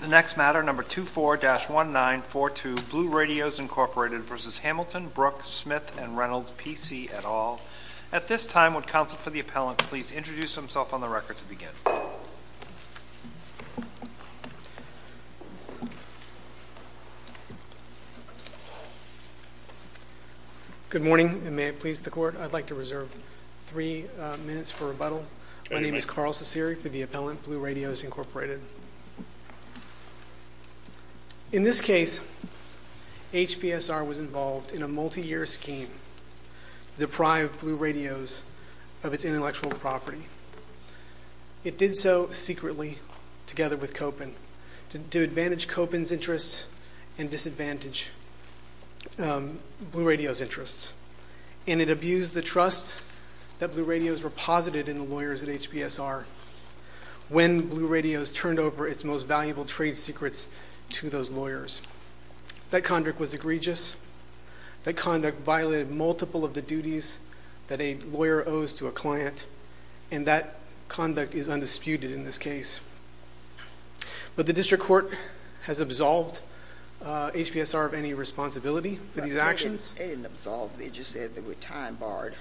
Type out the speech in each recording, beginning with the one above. The next matter, No. 24-1942, Blue Radios, Inc. v. Hamilton, Brook, Smith & Reynolds, P.C. et al. At this time, would counsel for the appellant please introduce himself on the record to Good morning, and may it please the Court, I'd like to reserve three minutes for rebuttal. My name is Carl Ciceri for the appellant, Blue Radios, Inc. In this case, HBSR was involved in a multi-year scheme to deprive Blue Radios of its intellectual property. It did so secretly, together with Kopin, to advantage Kopin's interests and disadvantage Blue Radios' interests, and it abused the trust that Blue Radios reposited in the lawyers at HBSR when Blue Radios turned over its most valuable trade secrets to those lawyers. That conduct was egregious, that conduct violated multiple of the duties that a lawyer owes to a client, and that conduct is undisputed in this case. But the district court has absolved HBSR of any responsibility for these actions. It didn't absolve, they just said they were time-barred.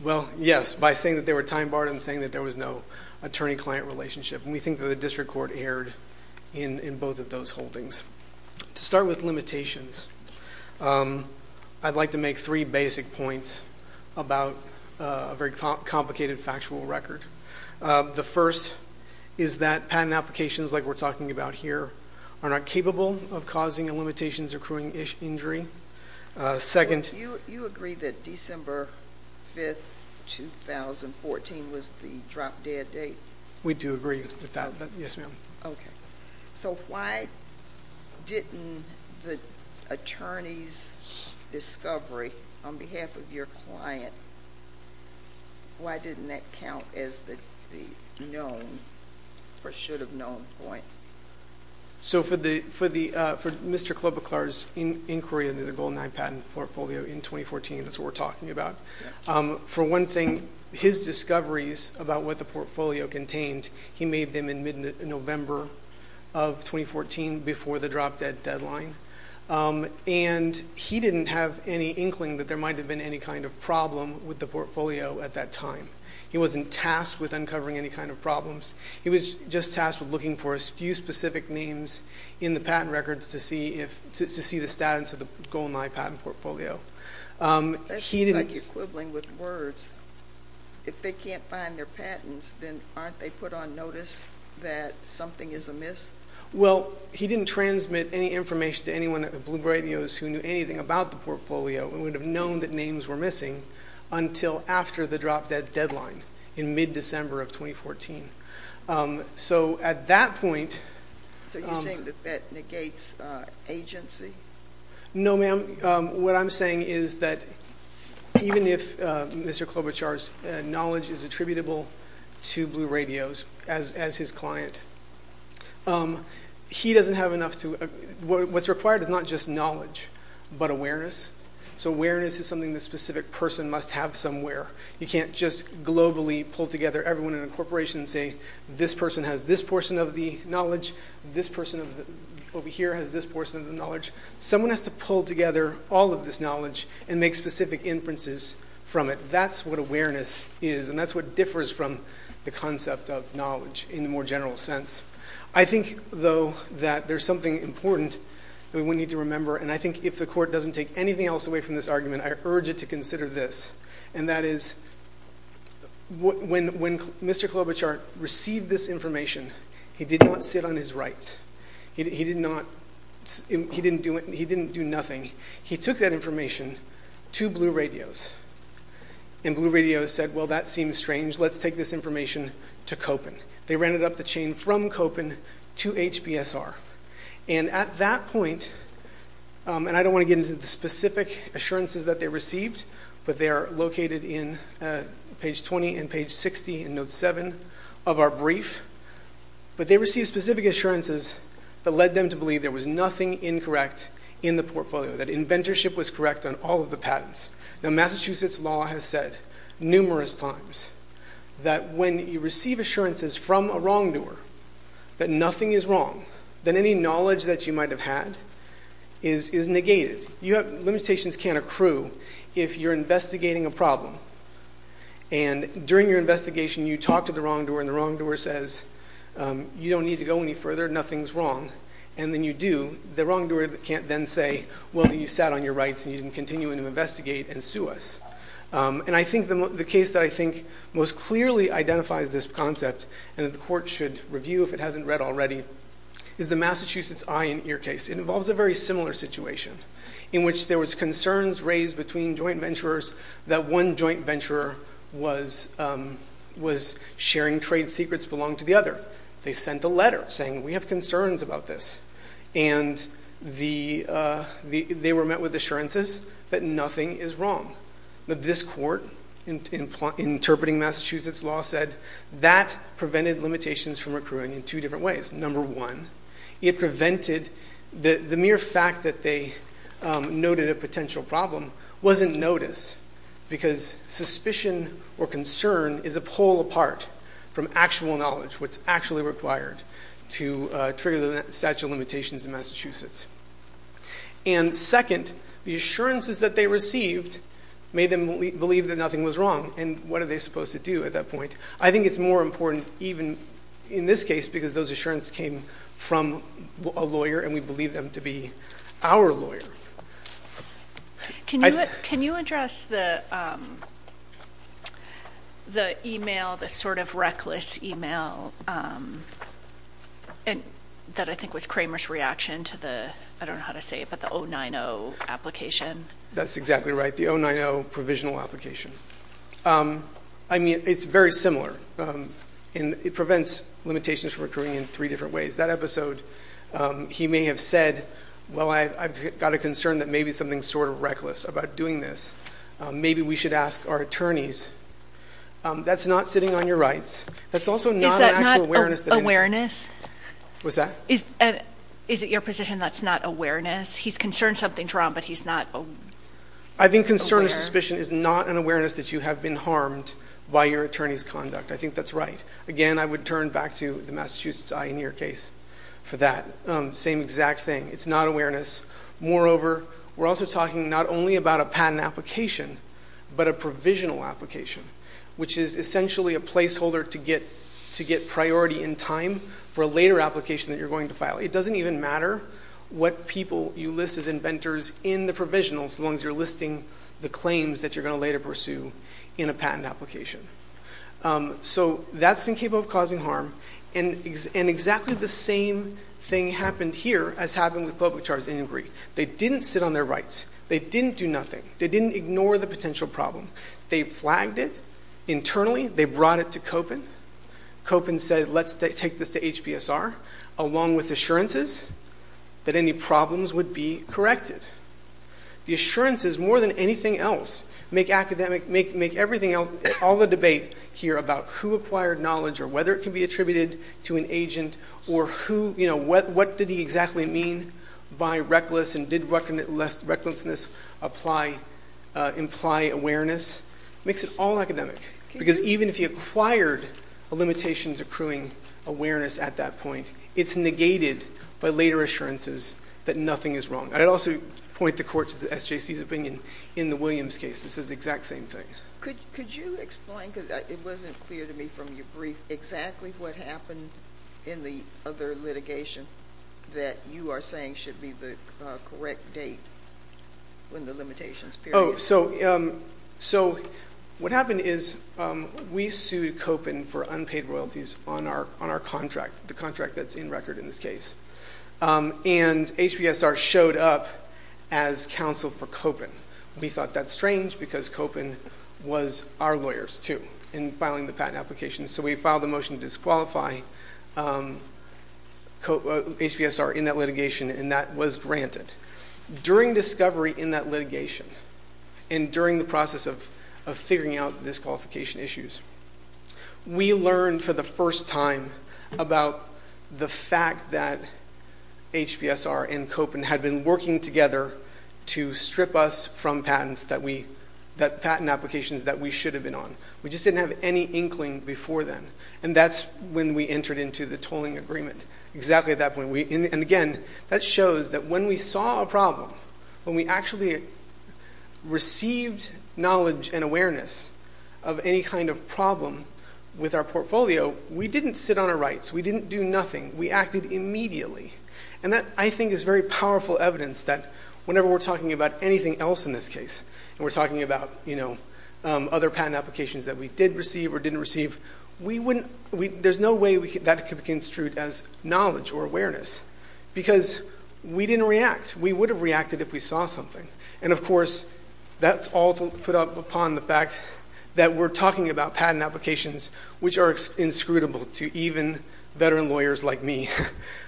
Well, yes, by saying that they were time-barred, I'm saying that there was no attorney-client relationship, and we think that the district court erred in both of those holdings. To start with limitations, I'd like to make three basic points about a very complicated factual record. The first is that patent applications, like we're talking about here, are not capable of causing a limitations-accruing injury. Second— You agree that December 5, 2014 was the drop-dead date? We do agree with that, yes, ma'am. So why didn't the attorney's discovery on behalf of your client, why didn't that count as the known or should-have-known point? So for Mr. Klobuchar's inquiry into the Goal 9 patent portfolio in 2014, that's what we're talking about. For one thing, his discoveries about what the portfolio contained, he made them in mid-November of 2014 before the drop-dead deadline, and he didn't have any inkling that there might have been any kind of problem with the portfolio at that time. He wasn't tasked with uncovering any kind of problems. He was just tasked with looking for a few specific names in the patent records to see the status of the Goal 9 patent portfolio. That seems like you're quibbling with words. If they can't find their patents, then aren't they put on notice that something is amiss? Well, he didn't transmit any information to anyone at the Bloomberg Radios who knew anything about the portfolio and would have known that names were missing until after the drop-dead deadline in mid-December of 2014. So at that point— So you're saying that that negates agency? No, ma'am. What I'm saying is that even if Mr. Klobuchar's knowledge is attributable to Blue Radios as his client, he doesn't have enough to—what's required is not just knowledge, but awareness. So awareness is something that a specific person must have somewhere. You can't just globally pull together everyone in a corporation and say, this person has this portion of the knowledge, this person over here has this portion of the knowledge. Someone has to pull together all of this knowledge and make specific inferences from it. That's what awareness is, and that's what differs from the concept of knowledge in the more general sense. I think, though, that there's something important that we need to remember, and I think if the Court doesn't take anything else away from this argument, I urge it to consider this, and that is, when Mr. Klobuchar received this information, he did not sit on his rights. He did not—he didn't do it—he didn't do nothing. He took that information to Blue Radios, and Blue Radios said, well, that seems strange. Let's take this information to Koppen. They rented up the chain from Koppen to HBSR. And at that point—and I don't want to get into the specific assurances that they received, but they are located in page 20 and page 60 in note 7 of our brief. But they received specific assurances that led them to believe there was nothing incorrect in the portfolio, that inventorship was correct on all of the patents. Now Massachusetts law has said numerous times that when you receive assurances from a wrongdoer that nothing is wrong, then any knowledge that you might have had is negated. Limitations can't accrue if you're investigating a problem. And during your investigation, you talk to the wrongdoer, and the wrongdoer says, you don't need to go any further, nothing's wrong. And then you do. The wrongdoer can't then say, well, you sat on your rights, and you can continue to investigate and sue us. And I think the case that I think most clearly identifies this concept, and the court should review if it hasn't read already, is the Massachusetts Eye and Ear case. It involves a very similar situation in which there was concerns raised between joint venturers that one joint venturer was sharing trade secrets belonging to the other. They sent a letter saying, we have concerns about this. And they were met with assurances that nothing is wrong. But this court, interpreting Massachusetts law, said that prevented limitations from accruing in two different ways. Number one, it prevented the mere fact that they noted a potential problem wasn't noticed. Because suspicion or concern is a pull apart from actual knowledge, what's actually required to trigger the statute of limitations in Massachusetts. And second, the assurances that they received made them believe that nothing was wrong. And what are they supposed to do at that point? I think it's more important, even in this case, because those assurances came from a lawyer, and we believe them to be our lawyer. Can you address the email, the sort of reckless email that I think was Kramer's reaction to the, I don't know how to say it, but the 090 application? That's exactly right, the 090 provisional application. I mean, it's very similar, and it prevents limitations from accruing in three different ways. That episode, he may have said, well, I've got a concern that maybe something's sort of reckless about doing this. Maybe we should ask our attorneys. That's not sitting on your rights. That's also not an actual awareness that- Is that not awareness? What's that? Is it your position that's not awareness? He's concerned something's wrong, but he's not aware? I think concern or suspicion is not an awareness that you have been harmed by your attorney's conduct. I think that's right. Again, I would turn back to the Massachusetts Eye and Ear case for that same exact thing. It's not awareness. Moreover, we're also talking not only about a patent application, but a provisional application, which is essentially a placeholder to get priority in time for a later application that you're going to file. It doesn't even matter what people you list as inventors in the provisionals, as long as you're listing the claims that you're going to later pursue in a patent application. So that's incapable of causing harm. And exactly the same thing happened here as happened with Global Charge of Injury. They didn't sit on their rights. They didn't do nothing. They didn't ignore the potential problem. They flagged it internally. They brought it to Kopin. Kopin said, let's take this to HBSR, along with assurances that any problems would be corrected. The assurances, more than anything else, make everything else, all the debate here about who acquired knowledge or whether it can be attributed to an agent. Or what did he exactly mean by reckless and did recklessness imply awareness? Makes it all academic. Because even if you acquired a limitations accruing awareness at that point, it's negated by later assurances that nothing is wrong. I'd also point the court to the SJC's opinion in the Williams case. This is the exact same thing. Could you explain, because it wasn't clear to me from your brief, exactly what happened in the other litigation that you are saying should be the correct date when the limitations period. So what happened is we sued Kopin for unpaid royalties on our contract, the contract that's in record in this case. And HBSR showed up as counsel for Kopin. We thought that's strange because Kopin was our lawyers too in filing the patent application. So we filed a motion to disqualify HBSR in that litigation and that was granted. During discovery in that litigation, and during the process of figuring out disqualification issues, we learned for the first time about the fact that HBSR and Kopin had been working together to strip us from patents that we, that patent applications that we should have been on. We just didn't have any inkling before then. And that's when we entered into the tolling agreement. Exactly at that point, and again, that shows that when we saw a problem, when we actually received knowledge and awareness of any kind of problem with our portfolio, we didn't sit on our rights. We didn't do nothing. We acted immediately. And that, I think, is very powerful evidence that whenever we're talking about anything else in this case, and we're talking about other patent applications that we did against truth as knowledge or awareness, because we didn't react. We would have reacted if we saw something. And of course, that's all to put up upon the fact that we're talking about patent applications which are inscrutable to even veteran lawyers like me.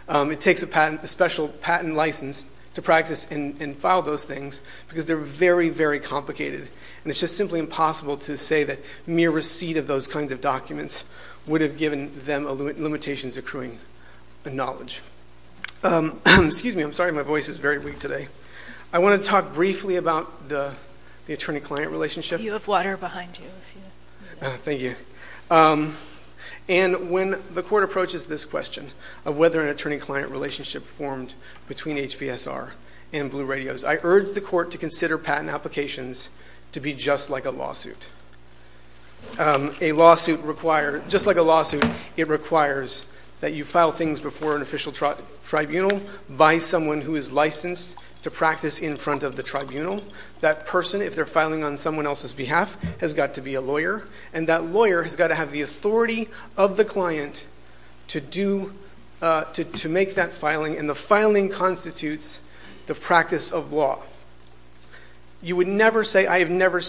It takes a patent, a special patent license to practice and file those things because they're very, very complicated. And it's just simply impossible to say that mere receipt of those kinds of documents would have given them limitations accruing the knowledge. Excuse me, I'm sorry, my voice is very weak today. I want to talk briefly about the attorney-client relationship. You have water behind you, if you need it. Thank you. And when the court approaches this question of whether an attorney-client relationship formed between HBSR and Blue Radios, I urge the court to consider patent applications to be just like a lawsuit. Just like a lawsuit, it requires that you file things before an official tribunal by someone who is licensed to practice in front of the tribunal. That person, if they're filing on someone else's behalf, has got to be a lawyer. And that lawyer has got to have the authority of the client to make that filing. And the filing constitutes the practice of law. You would never say, I've never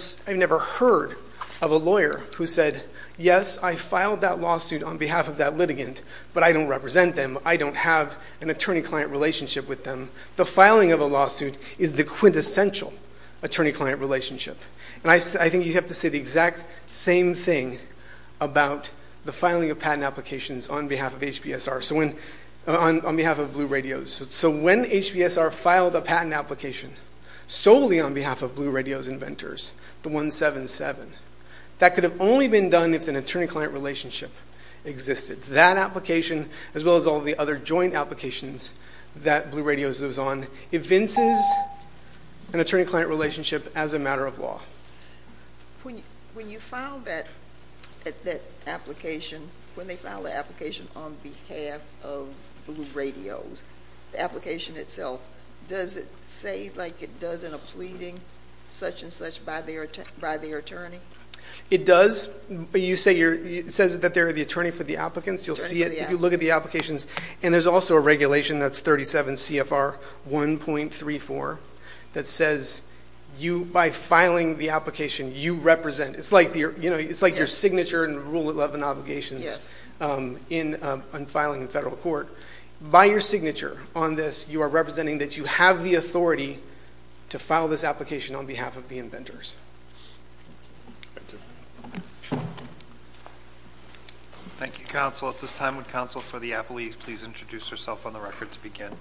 heard of a lawyer who said, yes, I filed that lawsuit on behalf of that litigant, but I don't represent them. I don't have an attorney-client relationship with them. The filing of a lawsuit is the quintessential attorney-client relationship. And I think you have to say the exact same thing about the filing of patent applications on behalf of HBSR, on behalf of Blue Radios. So when HBSR filed a patent application solely on behalf of Blue Radios inventors, the 177, that could have only been done if an attorney-client relationship existed. That application, as well as all the other joint applications that Blue Radios was on, evinces an attorney-client relationship as a matter of law. When you file that application, when they file the application on behalf of Blue Radios, the application itself, does it say like it does in a pleading, such and such, by their attorney? It does. It says that they're the attorney for the applicants. If you look at the applications, and there's also a regulation, that's 37 CFR 1.34, that says you, by filing the application, you represent. It's like your signature in Rule 11 Obligations on filing in federal court. By your signature on this, you are representing that you have the authority to file this application on behalf of the inventors. Thank you, counsel. At this time, would counsel for the appellees please introduce herself on the record to begin?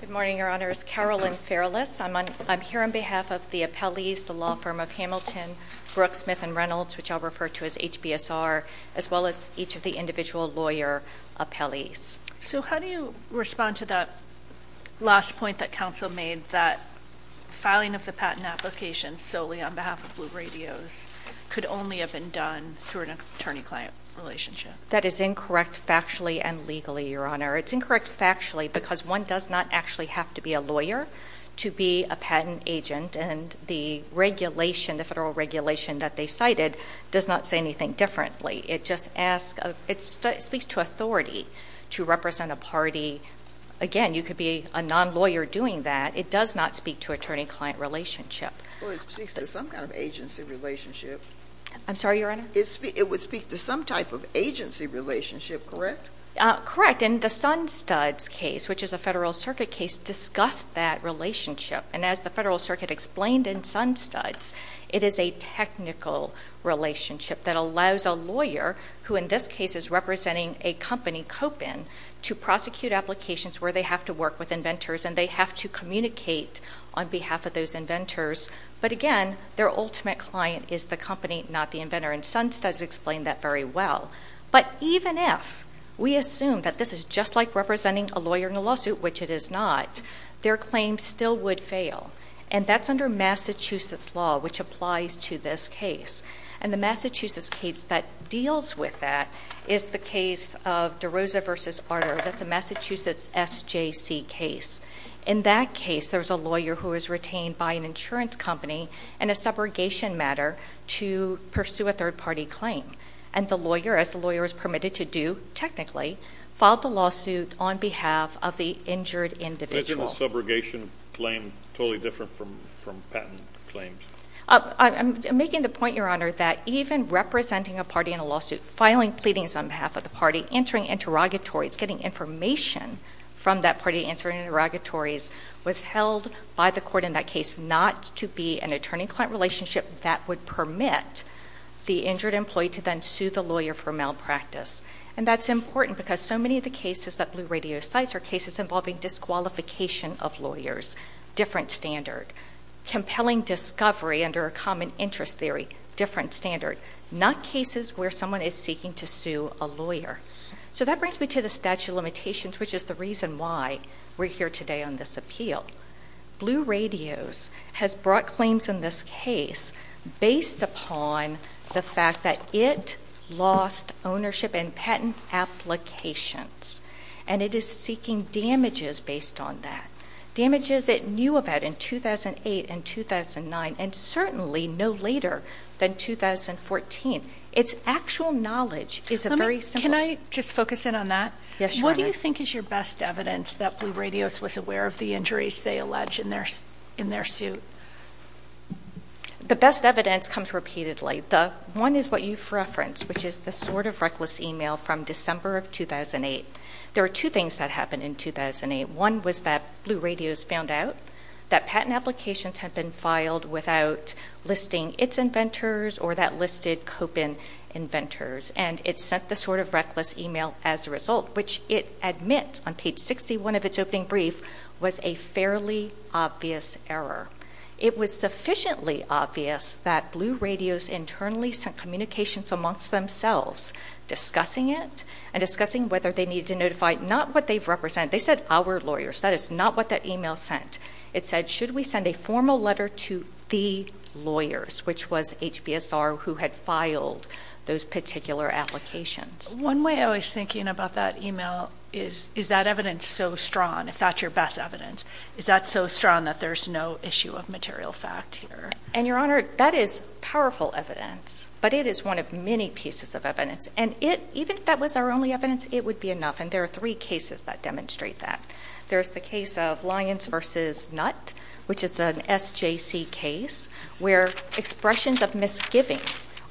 Good morning, Your Honor. It's Carolyn Fairless. I'm here on behalf of the appellees, the law firm of Hamilton, Brooks, Smith & Reynolds, which I'll refer to as HBSR, as well as each of the individual lawyer appellees. How do you respond to that last point that counsel made, that filing of the patent application solely on behalf of Blue Radios could only have been done through an attorney-client relationship? That is incorrect factually and legally, Your Honor. It's incorrect factually because one does not actually have to be a lawyer to be a patent agent, and the regulation, the federal regulation that they cited, does not say anything differently. It just speaks to authority to represent a party. Again, you could be a non-lawyer doing that. It does not speak to attorney-client relationship. Well, it speaks to some kind of agency relationship. I'm sorry, Your Honor? It would speak to some type of agency relationship, correct? Correct. And the Sun Studs case, which is a federal circuit case, discussed that relationship. And as the federal circuit explained in Sun Studs, it is a technical relationship that allows a lawyer, who in this case is representing a company, Copin, to prosecute applications where they have to work with inventors and they have to communicate on behalf of those inventors. But again, their ultimate client is the company, not the inventor, and Sun Studs explained that very well. But even if we assume that this is just like representing a lawyer in a lawsuit, which it is not, their claim still would fail. And that's under Massachusetts law, which applies to this case. And the Massachusetts case that deals with that is the case of DeRosa v. Arter. That's a Massachusetts SJC case. In that case, there's a lawyer who is retained by an insurance company in a subrogation matter to pursue a third-party claim. And the lawyer, as the lawyer is permitted to do technically, filed the lawsuit on behalf of the injured individual. Isn't a subrogation claim totally different from patent claims? I'm making the point, Your Honor, that even representing a party in a lawsuit, filing pleadings on behalf of the party, entering interrogatories, getting information from that party entering interrogatories, was held by the court in that case not to be an attorney-client relationship that would permit the injured employee to then sue the lawyer for malpractice. And that's important because so many of the cases that Blue Radios cites are cases involving disqualification of lawyers, different standard. Compelling discovery under a common interest theory, different standard. Not cases where someone is seeking to sue a lawyer. So that brings me to the statute of limitations, which is the reason why we're here today on this appeal. Blue Radios has brought claims in this case based upon the fact that it lost ownership in patent applications. And it is seeking damages based on that. Damages it knew about in 2008 and 2009, and certainly no later than 2014. Its actual knowledge is very simple. Can I just focus in on that? Yes, Your Honor. What do you think is your best evidence that Blue Radios was aware of the injuries they allege in their suit? The best evidence comes repeatedly. One is what you've referenced, which is the sort of reckless email from December of 2008. There were two things that happened in 2008. One was that Blue Radios found out that patent applications had been filed without listing its inventors or that listed Copin inventors. And it sent the sort of reckless email as a result, which it admits on page 61 of its opening brief was a fairly obvious error. It was sufficiently obvious that Blue Radios internally sent communications amongst themselves discussing it and discussing whether they needed to notify not what they've represented. They said, our lawyers. That is not what that email sent. It said, should we send a formal letter to the lawyers, which was HBSR who had filed those particular applications. One way I was thinking about that email is, is that evidence so strong? If that's your best evidence, is that so strong that there's no issue of material fact here? And, Your Honor, that is powerful evidence. But it is one of many pieces of evidence. And even if that was our only evidence, it would be enough. And there are three cases that demonstrate that. There's the case of Lyons v. Nutt, which is an SJC case, where expressions of misgiving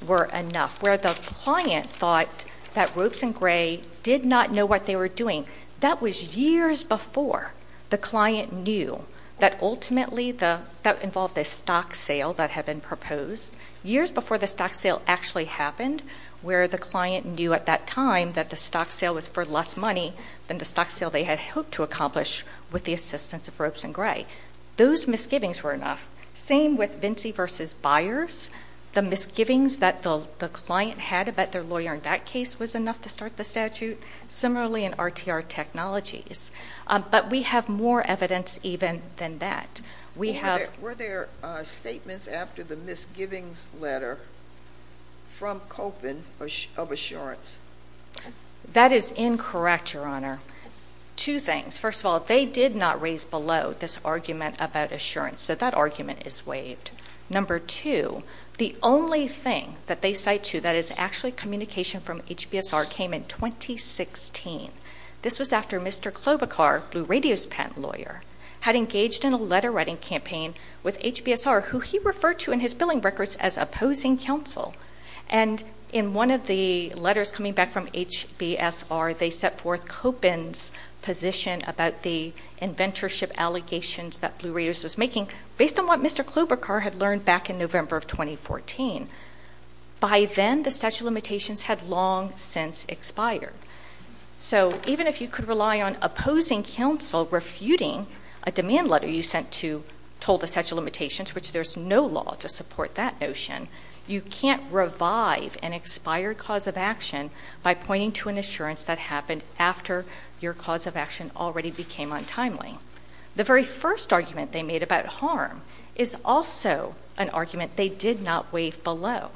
were enough. Where the client thought that Ropes and Gray did not know what they were doing. That was years before the client knew that ultimately that involved a stock sale that had been proposed. Years before the stock sale actually happened, where the client knew at that time that the stock sale was for less money than the stock sale they had hoped to accomplish with the assistance of Ropes and Gray. Those misgivings were enough. Same with Vinci v. Byers. The misgivings that the client had about their lawyer in that case was enough to start the statute. Similarly in RTR Technologies. But we have more evidence even than that. Were there statements after the misgivings letter from Koppen of assurance? That is incorrect, Your Honor. Two things. First of all, they did not raise below this argument about assurance. So that argument is waived. Number two, the only thing that they cite to that is actually communication from HBSR came in 2016. This was after Mr. Klobuchar, Blue Radio's patent lawyer, had engaged in a letter writing campaign with HBSR, who he referred to in his billing records as opposing counsel. And in one of the letters coming back from HBSR, they set forth Koppen's position about the inventorship allegations that Blue Radio's was making, based on what Mr. Klobuchar had learned back in November of 2014. By then, the statute of limitations had long since expired. So even if you could rely on opposing counsel refuting a demand letter you sent to, told the statute of limitations, which there's no law to support that notion, you can't revive an expired cause of action by pointing to an assurance that happened after your cause of action already became untimely. The very first argument they made about harm is also an argument they did not waive below.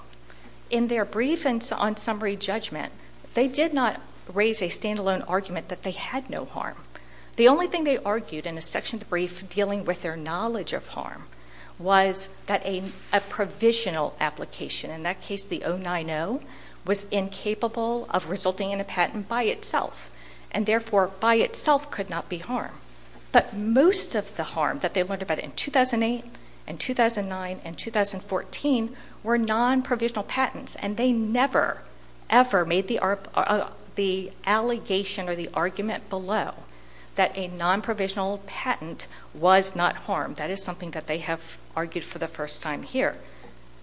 In their brief on summary judgment, they did not raise a standalone argument that they had no harm. The only thing they argued in a section of the brief dealing with their knowledge of harm was that a provisional application, in that case the 090, was incapable of resulting in a patent by itself, and therefore by itself could not be harm. But most of the harm that they learned about in 2008 and 2009 and 2014 were non-provisional patents, and they never, ever made the allegation or the argument below that a non-provisional patent was not harm. That is something that they have argued for the first time here.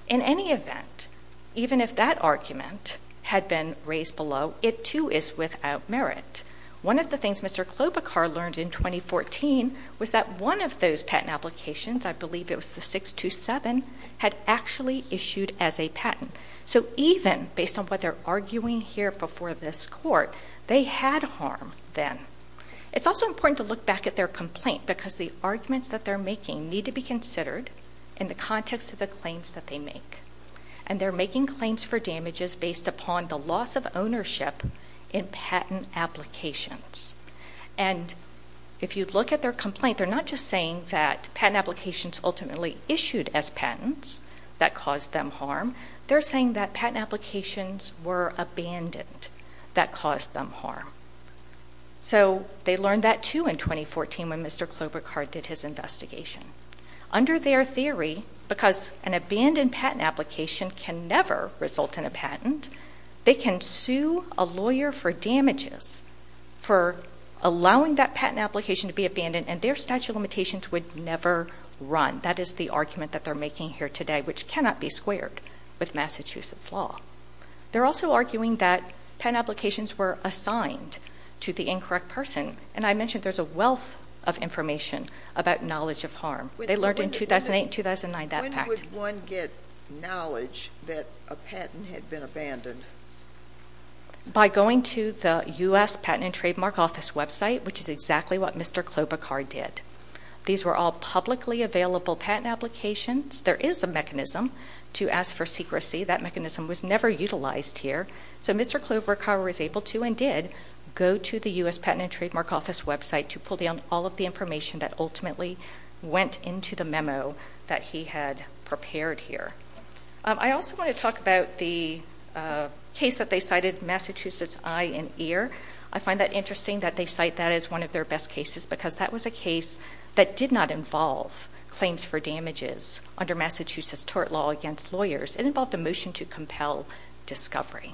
In any event, even if that argument had been raised below, it too is without merit. One of the things Mr. Klobuchar learned in 2014 was that one of those patent applications, I believe it was the 627, had actually issued as a patent. So even based on what they're arguing here before this court, they had harm then. It's also important to look back at their complaint, because the arguments that they're making need to be considered in the context of the claims that they make. And they're making claims for damages based upon the loss of ownership in patent applications. And if you look at their complaint, they're not just saying that patent applications ultimately issued as patents that caused them harm. They're saying that patent applications were abandoned that caused them harm. So they learned that too in 2014 when Mr. Klobuchar did his investigation. Under their theory, because an abandoned patent application can never result in a patent, they can sue a lawyer for damages for allowing that patent application to be abandoned, and their statute of limitations would never run. That is the argument that they're making here today, which cannot be squared with Massachusetts law. They're also arguing that patent applications were assigned to the incorrect person. And I mentioned there's a wealth of information about knowledge of harm. They learned in 2008 and 2009 that fact. How could one get knowledge that a patent had been abandoned? By going to the U.S. Patent and Trademark Office website, which is exactly what Mr. Klobuchar did. These were all publicly available patent applications. There is a mechanism to ask for secrecy. That mechanism was never utilized here. So Mr. Klobuchar was able to and did go to the U.S. Patent and Trademark Office website to pull down all of the information that ultimately went into the memo that he had prepared here. I also want to talk about the case that they cited, Massachusetts Eye and Ear. I find that interesting that they cite that as one of their best cases, because that was a case that did not involve claims for damages under Massachusetts tort law against lawyers. It involved a motion to compel discovery.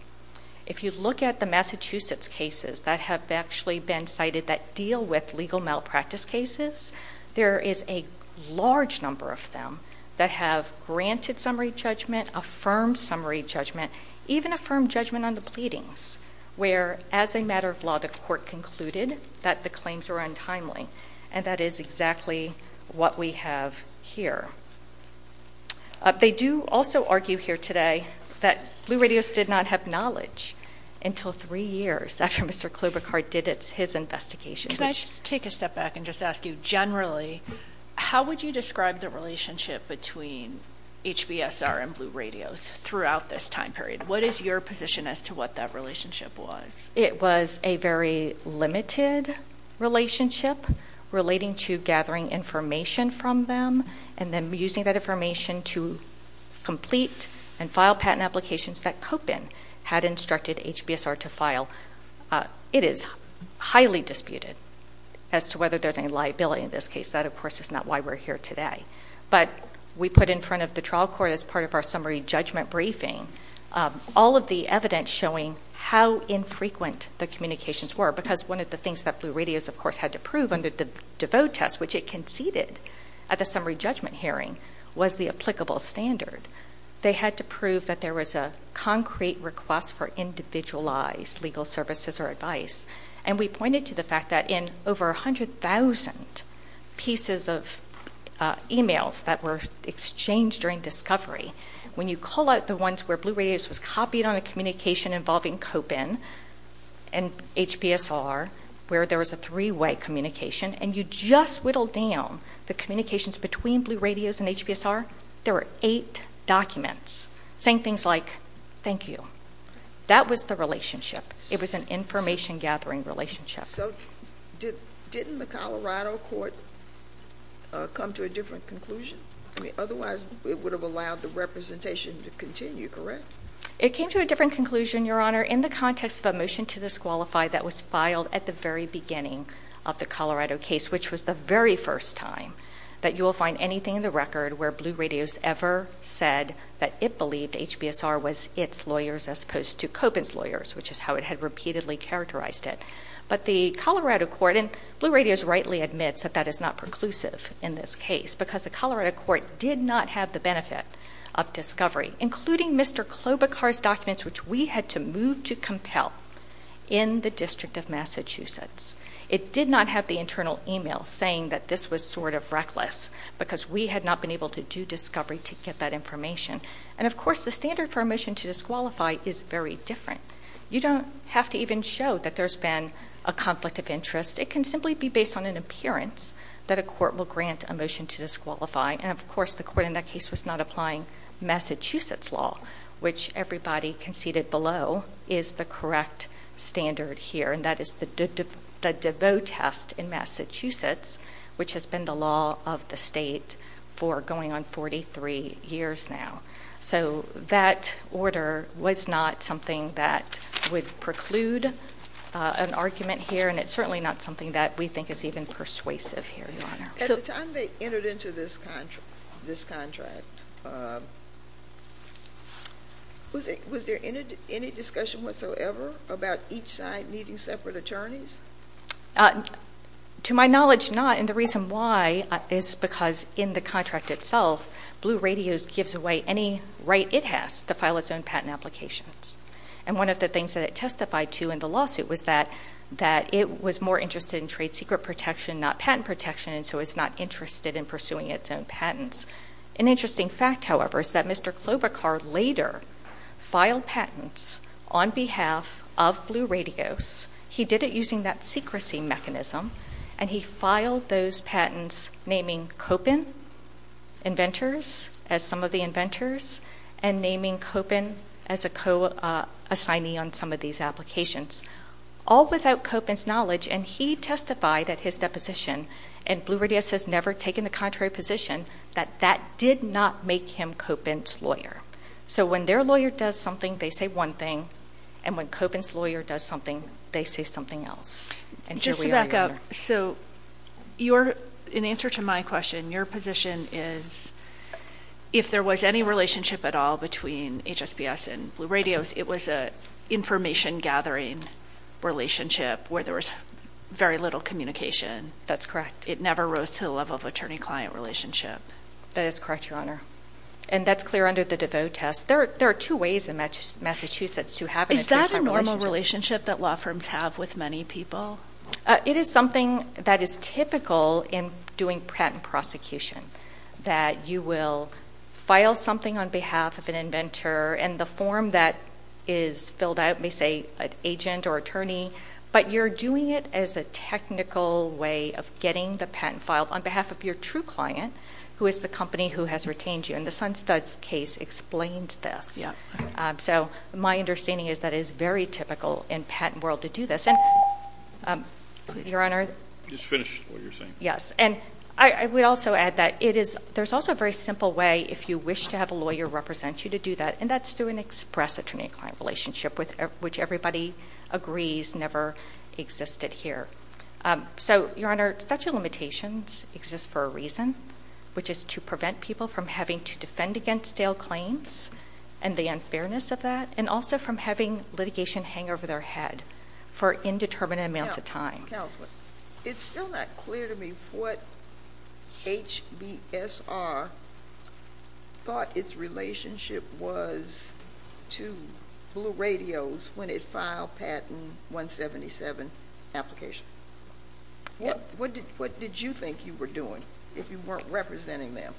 If you look at the Massachusetts cases that have actually been cited that deal with legal malpractice cases, there is a large number of them that have granted summary judgment, affirmed summary judgment, even affirmed judgment on the pleadings, where, as a matter of law, the court concluded that the claims were untimely. And that is exactly what we have here. They do also argue here today that Blue Radios did not have knowledge until three years after Mr. Klobuchar did his investigation. Can I just take a step back and just ask you generally, how would you describe the relationship between HBSR and Blue Radios throughout this time period? What is your position as to what that relationship was? It was a very limited relationship relating to gathering information from them and then using that information to complete and file patent applications that COPIN had instructed HBSR to file. It is highly disputed as to whether there's any liability in this case. That, of course, is not why we're here today. But we put in front of the trial court as part of our summary judgment briefing all of the evidence showing how infrequent the communications were, because one of the things that Blue Radios, of course, had to prove under the DeVoe test, which it conceded at the summary judgment hearing, was the applicable standard. They had to prove that there was a concrete request for individualized legal services or advice. And we pointed to the fact that in over 100,000 pieces of emails that were exchanged during discovery, when you call out the ones where Blue Radios was copied on a communication involving COPIN and HBSR, where there was a three-way communication, and you just whittle down the communications between Blue Radios and HBSR, there were eight documents saying things like, thank you. That was the relationship. It was an information-gathering relationship. So didn't the Colorado court come to a different conclusion? I mean, otherwise it would have allowed the representation to continue, correct? It came to a different conclusion, Your Honor, in the context of a motion to disqualify that was filed at the very beginning of the Colorado case, which was the very first time that you will find anything in the record where Blue Radios ever said that it believed HBSR was its lawyers as opposed to COPIN's lawyers, which is how it had repeatedly characterized it. But the Colorado court, and Blue Radios rightly admits that that is not preclusive in this case because the Colorado court did not have the benefit of discovery, including Mr. Klobuchar's documents, which we had to move to compel in the District of Massachusetts. It did not have the internal email saying that this was sort of reckless because we had not been able to do discovery to get that information. And, of course, the standard for a motion to disqualify is very different. You don't have to even show that there's been a conflict of interest. It can simply be based on an appearance that a court will grant a motion to disqualify. And, of course, the court in that case was not applying Massachusetts law, which everybody conceded below is the correct standard here, and that is the DeVoe test in Massachusetts, which has been the law of the state for going on 43 years now. So that order was not something that would preclude an argument here, and it's certainly not something that we think is even persuasive here, Your Honor. At the time they entered into this contract, was there any discussion whatsoever about each side needing separate attorneys? To my knowledge, not. And the reason why is because in the contract itself, Blue Radios gives away any right it has to file its own patent applications. And one of the things that it testified to in the lawsuit was that it was more interested in trade secret protection, not patent protection, and so it's not interested in pursuing its own patents. An interesting fact, however, is that Mr. Klobuchar later filed patents on behalf of Blue Radios. He did it using that secrecy mechanism, and he filed those patents naming Kopin inventors as some of the inventors and naming Kopin as a co-assignee on some of these applications, all without Kopin's knowledge, and he testified at his deposition, and Blue Radios has never taken the contrary position, that that did not make him Kopin's lawyer. So when their lawyer does something, they say one thing, and when Kopin's lawyer does something, they say something else. And here we are, Your Honor. Just to back up, so in answer to my question, your position is if there was any relationship at all between HSBS and Blue Radios, it was an information-gathering relationship where there was very little communication. That's correct. It never rose to the level of attorney-client relationship. That is correct, Your Honor. And that's clear under the DeVos test. There are two ways in Massachusetts to have an attorney-client relationship. Is that a normal relationship that law firms have with many people? It is something that is typical in doing patent prosecution, that you will file something on behalf of an inventor, and the form that is filled out may say an agent or attorney, but you're doing it as a technical way of getting the patent filed on behalf of your true client, who is the company who has retained you. And the Sunstud's case explains this. So my understanding is that it is very typical in the patent world to do this. And, Your Honor? Just finish what you're saying. Yes. And I would also add that there's also a very simple way if you wish to have a lawyer represent you to do that, and that's through an express attorney-client relationship, which everybody agrees never existed here. So, Your Honor, statute of limitations exists for a reason, which is to prevent people from having to defend against stale claims and the unfairness of that, and also from having litigation hang over their head for indeterminate amounts of time. Counselor, it's still not clear to me what HBSR thought its relationship was to Blue Radios when it filed Patent 177 application. What did you think you were doing if you weren't representing them?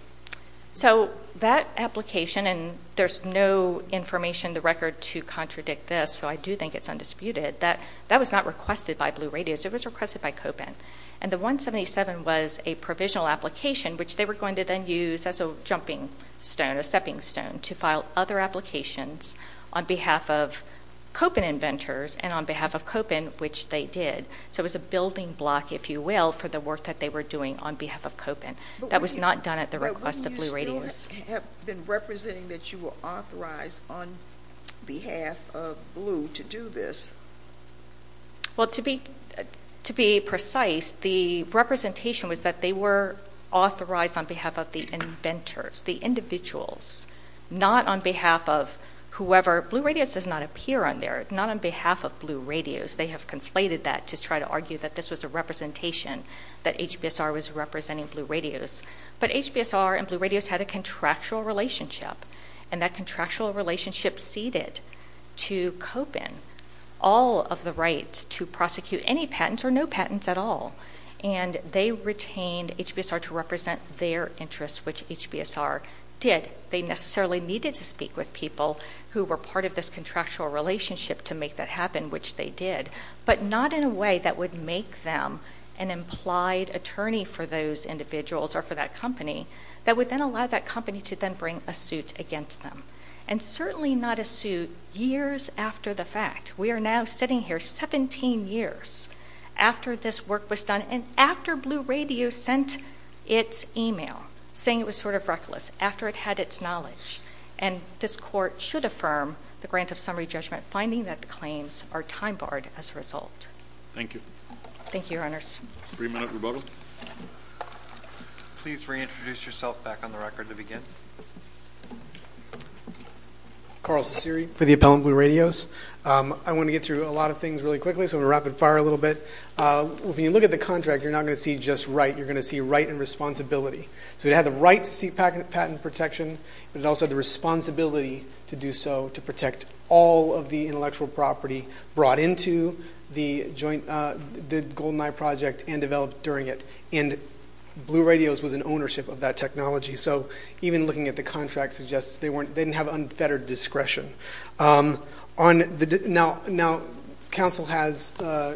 So that application, and there's no information in the record to contradict this, so I do think it's undisputed, that that was not requested by Blue Radios. It was requested by COBIN. And the 177 was a provisional application, which they were going to then use as a jumping stone, a stepping stone, to file other applications on behalf of COBIN inventors and on behalf of COBIN, which they did. So it was a building block, if you will, for the work that they were doing on behalf of COBIN. That was not done at the request of Blue Radios. But wouldn't you still have been representing that you were authorized on behalf of Blue to do this? Well, to be precise, the representation was that they were authorized on behalf of the inventors, the individuals, not on behalf of whoever. Blue Radios does not appear on there, not on behalf of Blue Radios. They have conflated that to try to argue that this was a representation that HBSR was representing Blue Radios. But HBSR and Blue Radios had a contractual relationship, and that contractual relationship ceded to COBIN all of the rights to prosecute any patents or no patents at all. And they retained HBSR to represent their interests, which HBSR did. They necessarily needed to speak with people who were part of this contractual relationship to make that happen, which they did, but not in a way that would make them an implied attorney for those individuals or for that company that would then allow that company to then bring a suit against them, and certainly not a suit years after the fact. We are now sitting here 17 years after this work was done and after Blue Radios sent its email, saying it was sort of reckless, after it had its knowledge. And this court should affirm the grant of summary judgment, finding that the claims are time-barred as a result. Thank you. Thank you, Your Honors. Three-minute rebuttal. Please reintroduce yourself back on the record to begin. Carl Ciceri for the Appellant Blue Radios. I want to get through a lot of things really quickly, so I'm going to rapid-fire a little bit. When you look at the contract, you're not going to see just right. You're going to see right and responsibility. So it had the right to seek patent protection, but it also had the responsibility to do so, to protect all of the intellectual property brought into the GoldenEye project and developed during it. And Blue Radios was in ownership of that technology. So even looking at the contract suggests they didn't have unfettered discretion. Now, counsel has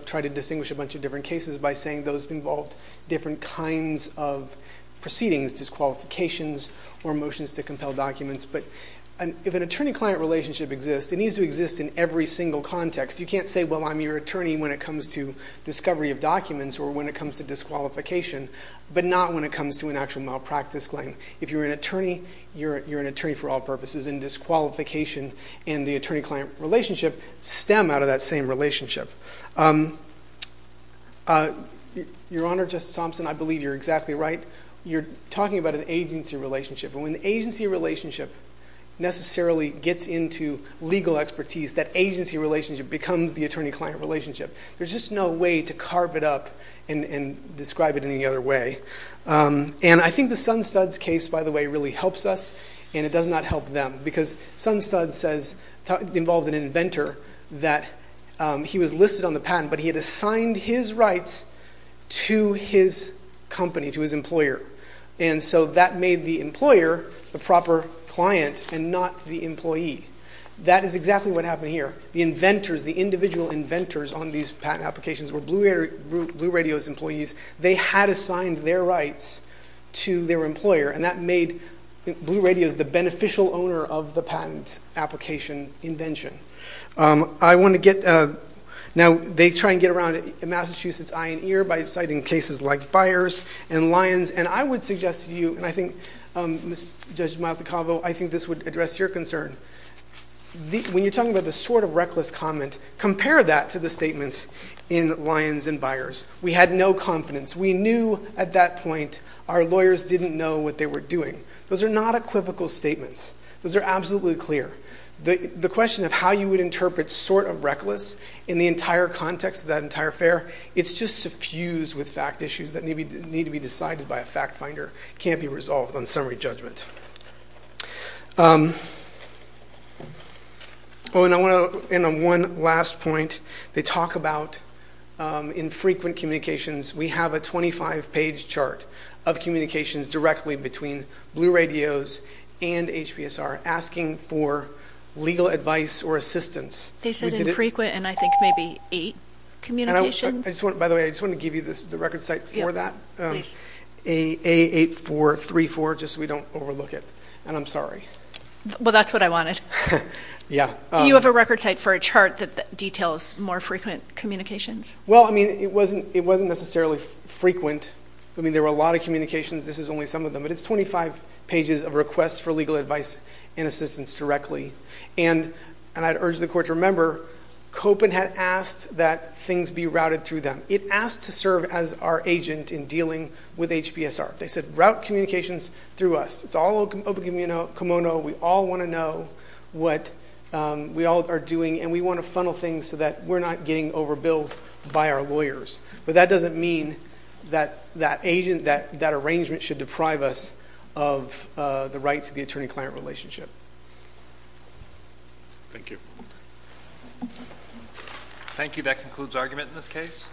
tried to distinguish a bunch of different cases by saying those involved different kinds of proceedings, disqualifications or motions to compel documents. But if an attorney-client relationship exists, it needs to exist in every single context. You can't say, well, I'm your attorney when it comes to discovery of documents or when it comes to disqualification, but not when it comes to an actual malpractice claim. If you're an attorney, you're an attorney for all purposes, and disqualification and the attorney-client relationship stem out of that same relationship. Your Honor, Justice Thompson, I believe you're exactly right. You're talking about an agency relationship, and when the agency relationship necessarily gets into legal expertise, that agency relationship becomes the attorney-client relationship. There's just no way to carve it up and describe it any other way. And I think the Sunstud's case, by the way, really helps us, and it does not help them. Because Sunstud says, involved an inventor, that he was listed on the patent, but he had assigned his rights to his company, to his employer. And so that made the employer the proper client and not the employee. That is exactly what happened here. The inventors, the individual inventors on these patent applications were Blue Radios employees. They had assigned their rights to their employer, and that made Blue Radios the beneficial owner of the patent application invention. Now, they try and get around Massachusetts eye and ear by citing cases like Byers and Lyons, and I would suggest to you, and I think, Judge Maldacavo, I think this would address your concern. When you're talking about the sort of reckless comment, compare that to the statements in Lyons and Byers. We had no confidence. We knew at that point our lawyers didn't know what they were doing. Those are not equivocal statements. Those are absolutely clear. The question of how you would interpret sort of reckless in the entire context of that entire affair, it's just suffused with fact issues that need to be decided by a fact finder. It can't be resolved on summary judgment. Oh, and I want to end on one last point. They talk about infrequent communications. We have a 25-page chart of communications directly between Blue Radios and HBSR asking for legal advice or assistance. They said infrequent, and I think maybe eight communications. By the way, I just want to give you the record site for that, A8434, just so we don't overlook it, and I'm sorry. Well, that's what I wanted. Yeah. You have a record site for a chart that details more frequent communications? Well, I mean, it wasn't necessarily frequent. I mean, there were a lot of communications. This is only some of them, but it's 25 pages of requests for legal advice and assistance directly, and I'd urge the Court to remember Copen had asked that things be routed through them. It asked to serve as our agent in dealing with HBSR. They said route communications through us. It's all open kimono. We all want to know what we all are doing, and we want to funnel things so that we're not getting overbilled by our lawyers. But that doesn't mean that that arrangement should deprive us of the right to the attorney-client relationship. Thank you. Thank you. That concludes argument in this case.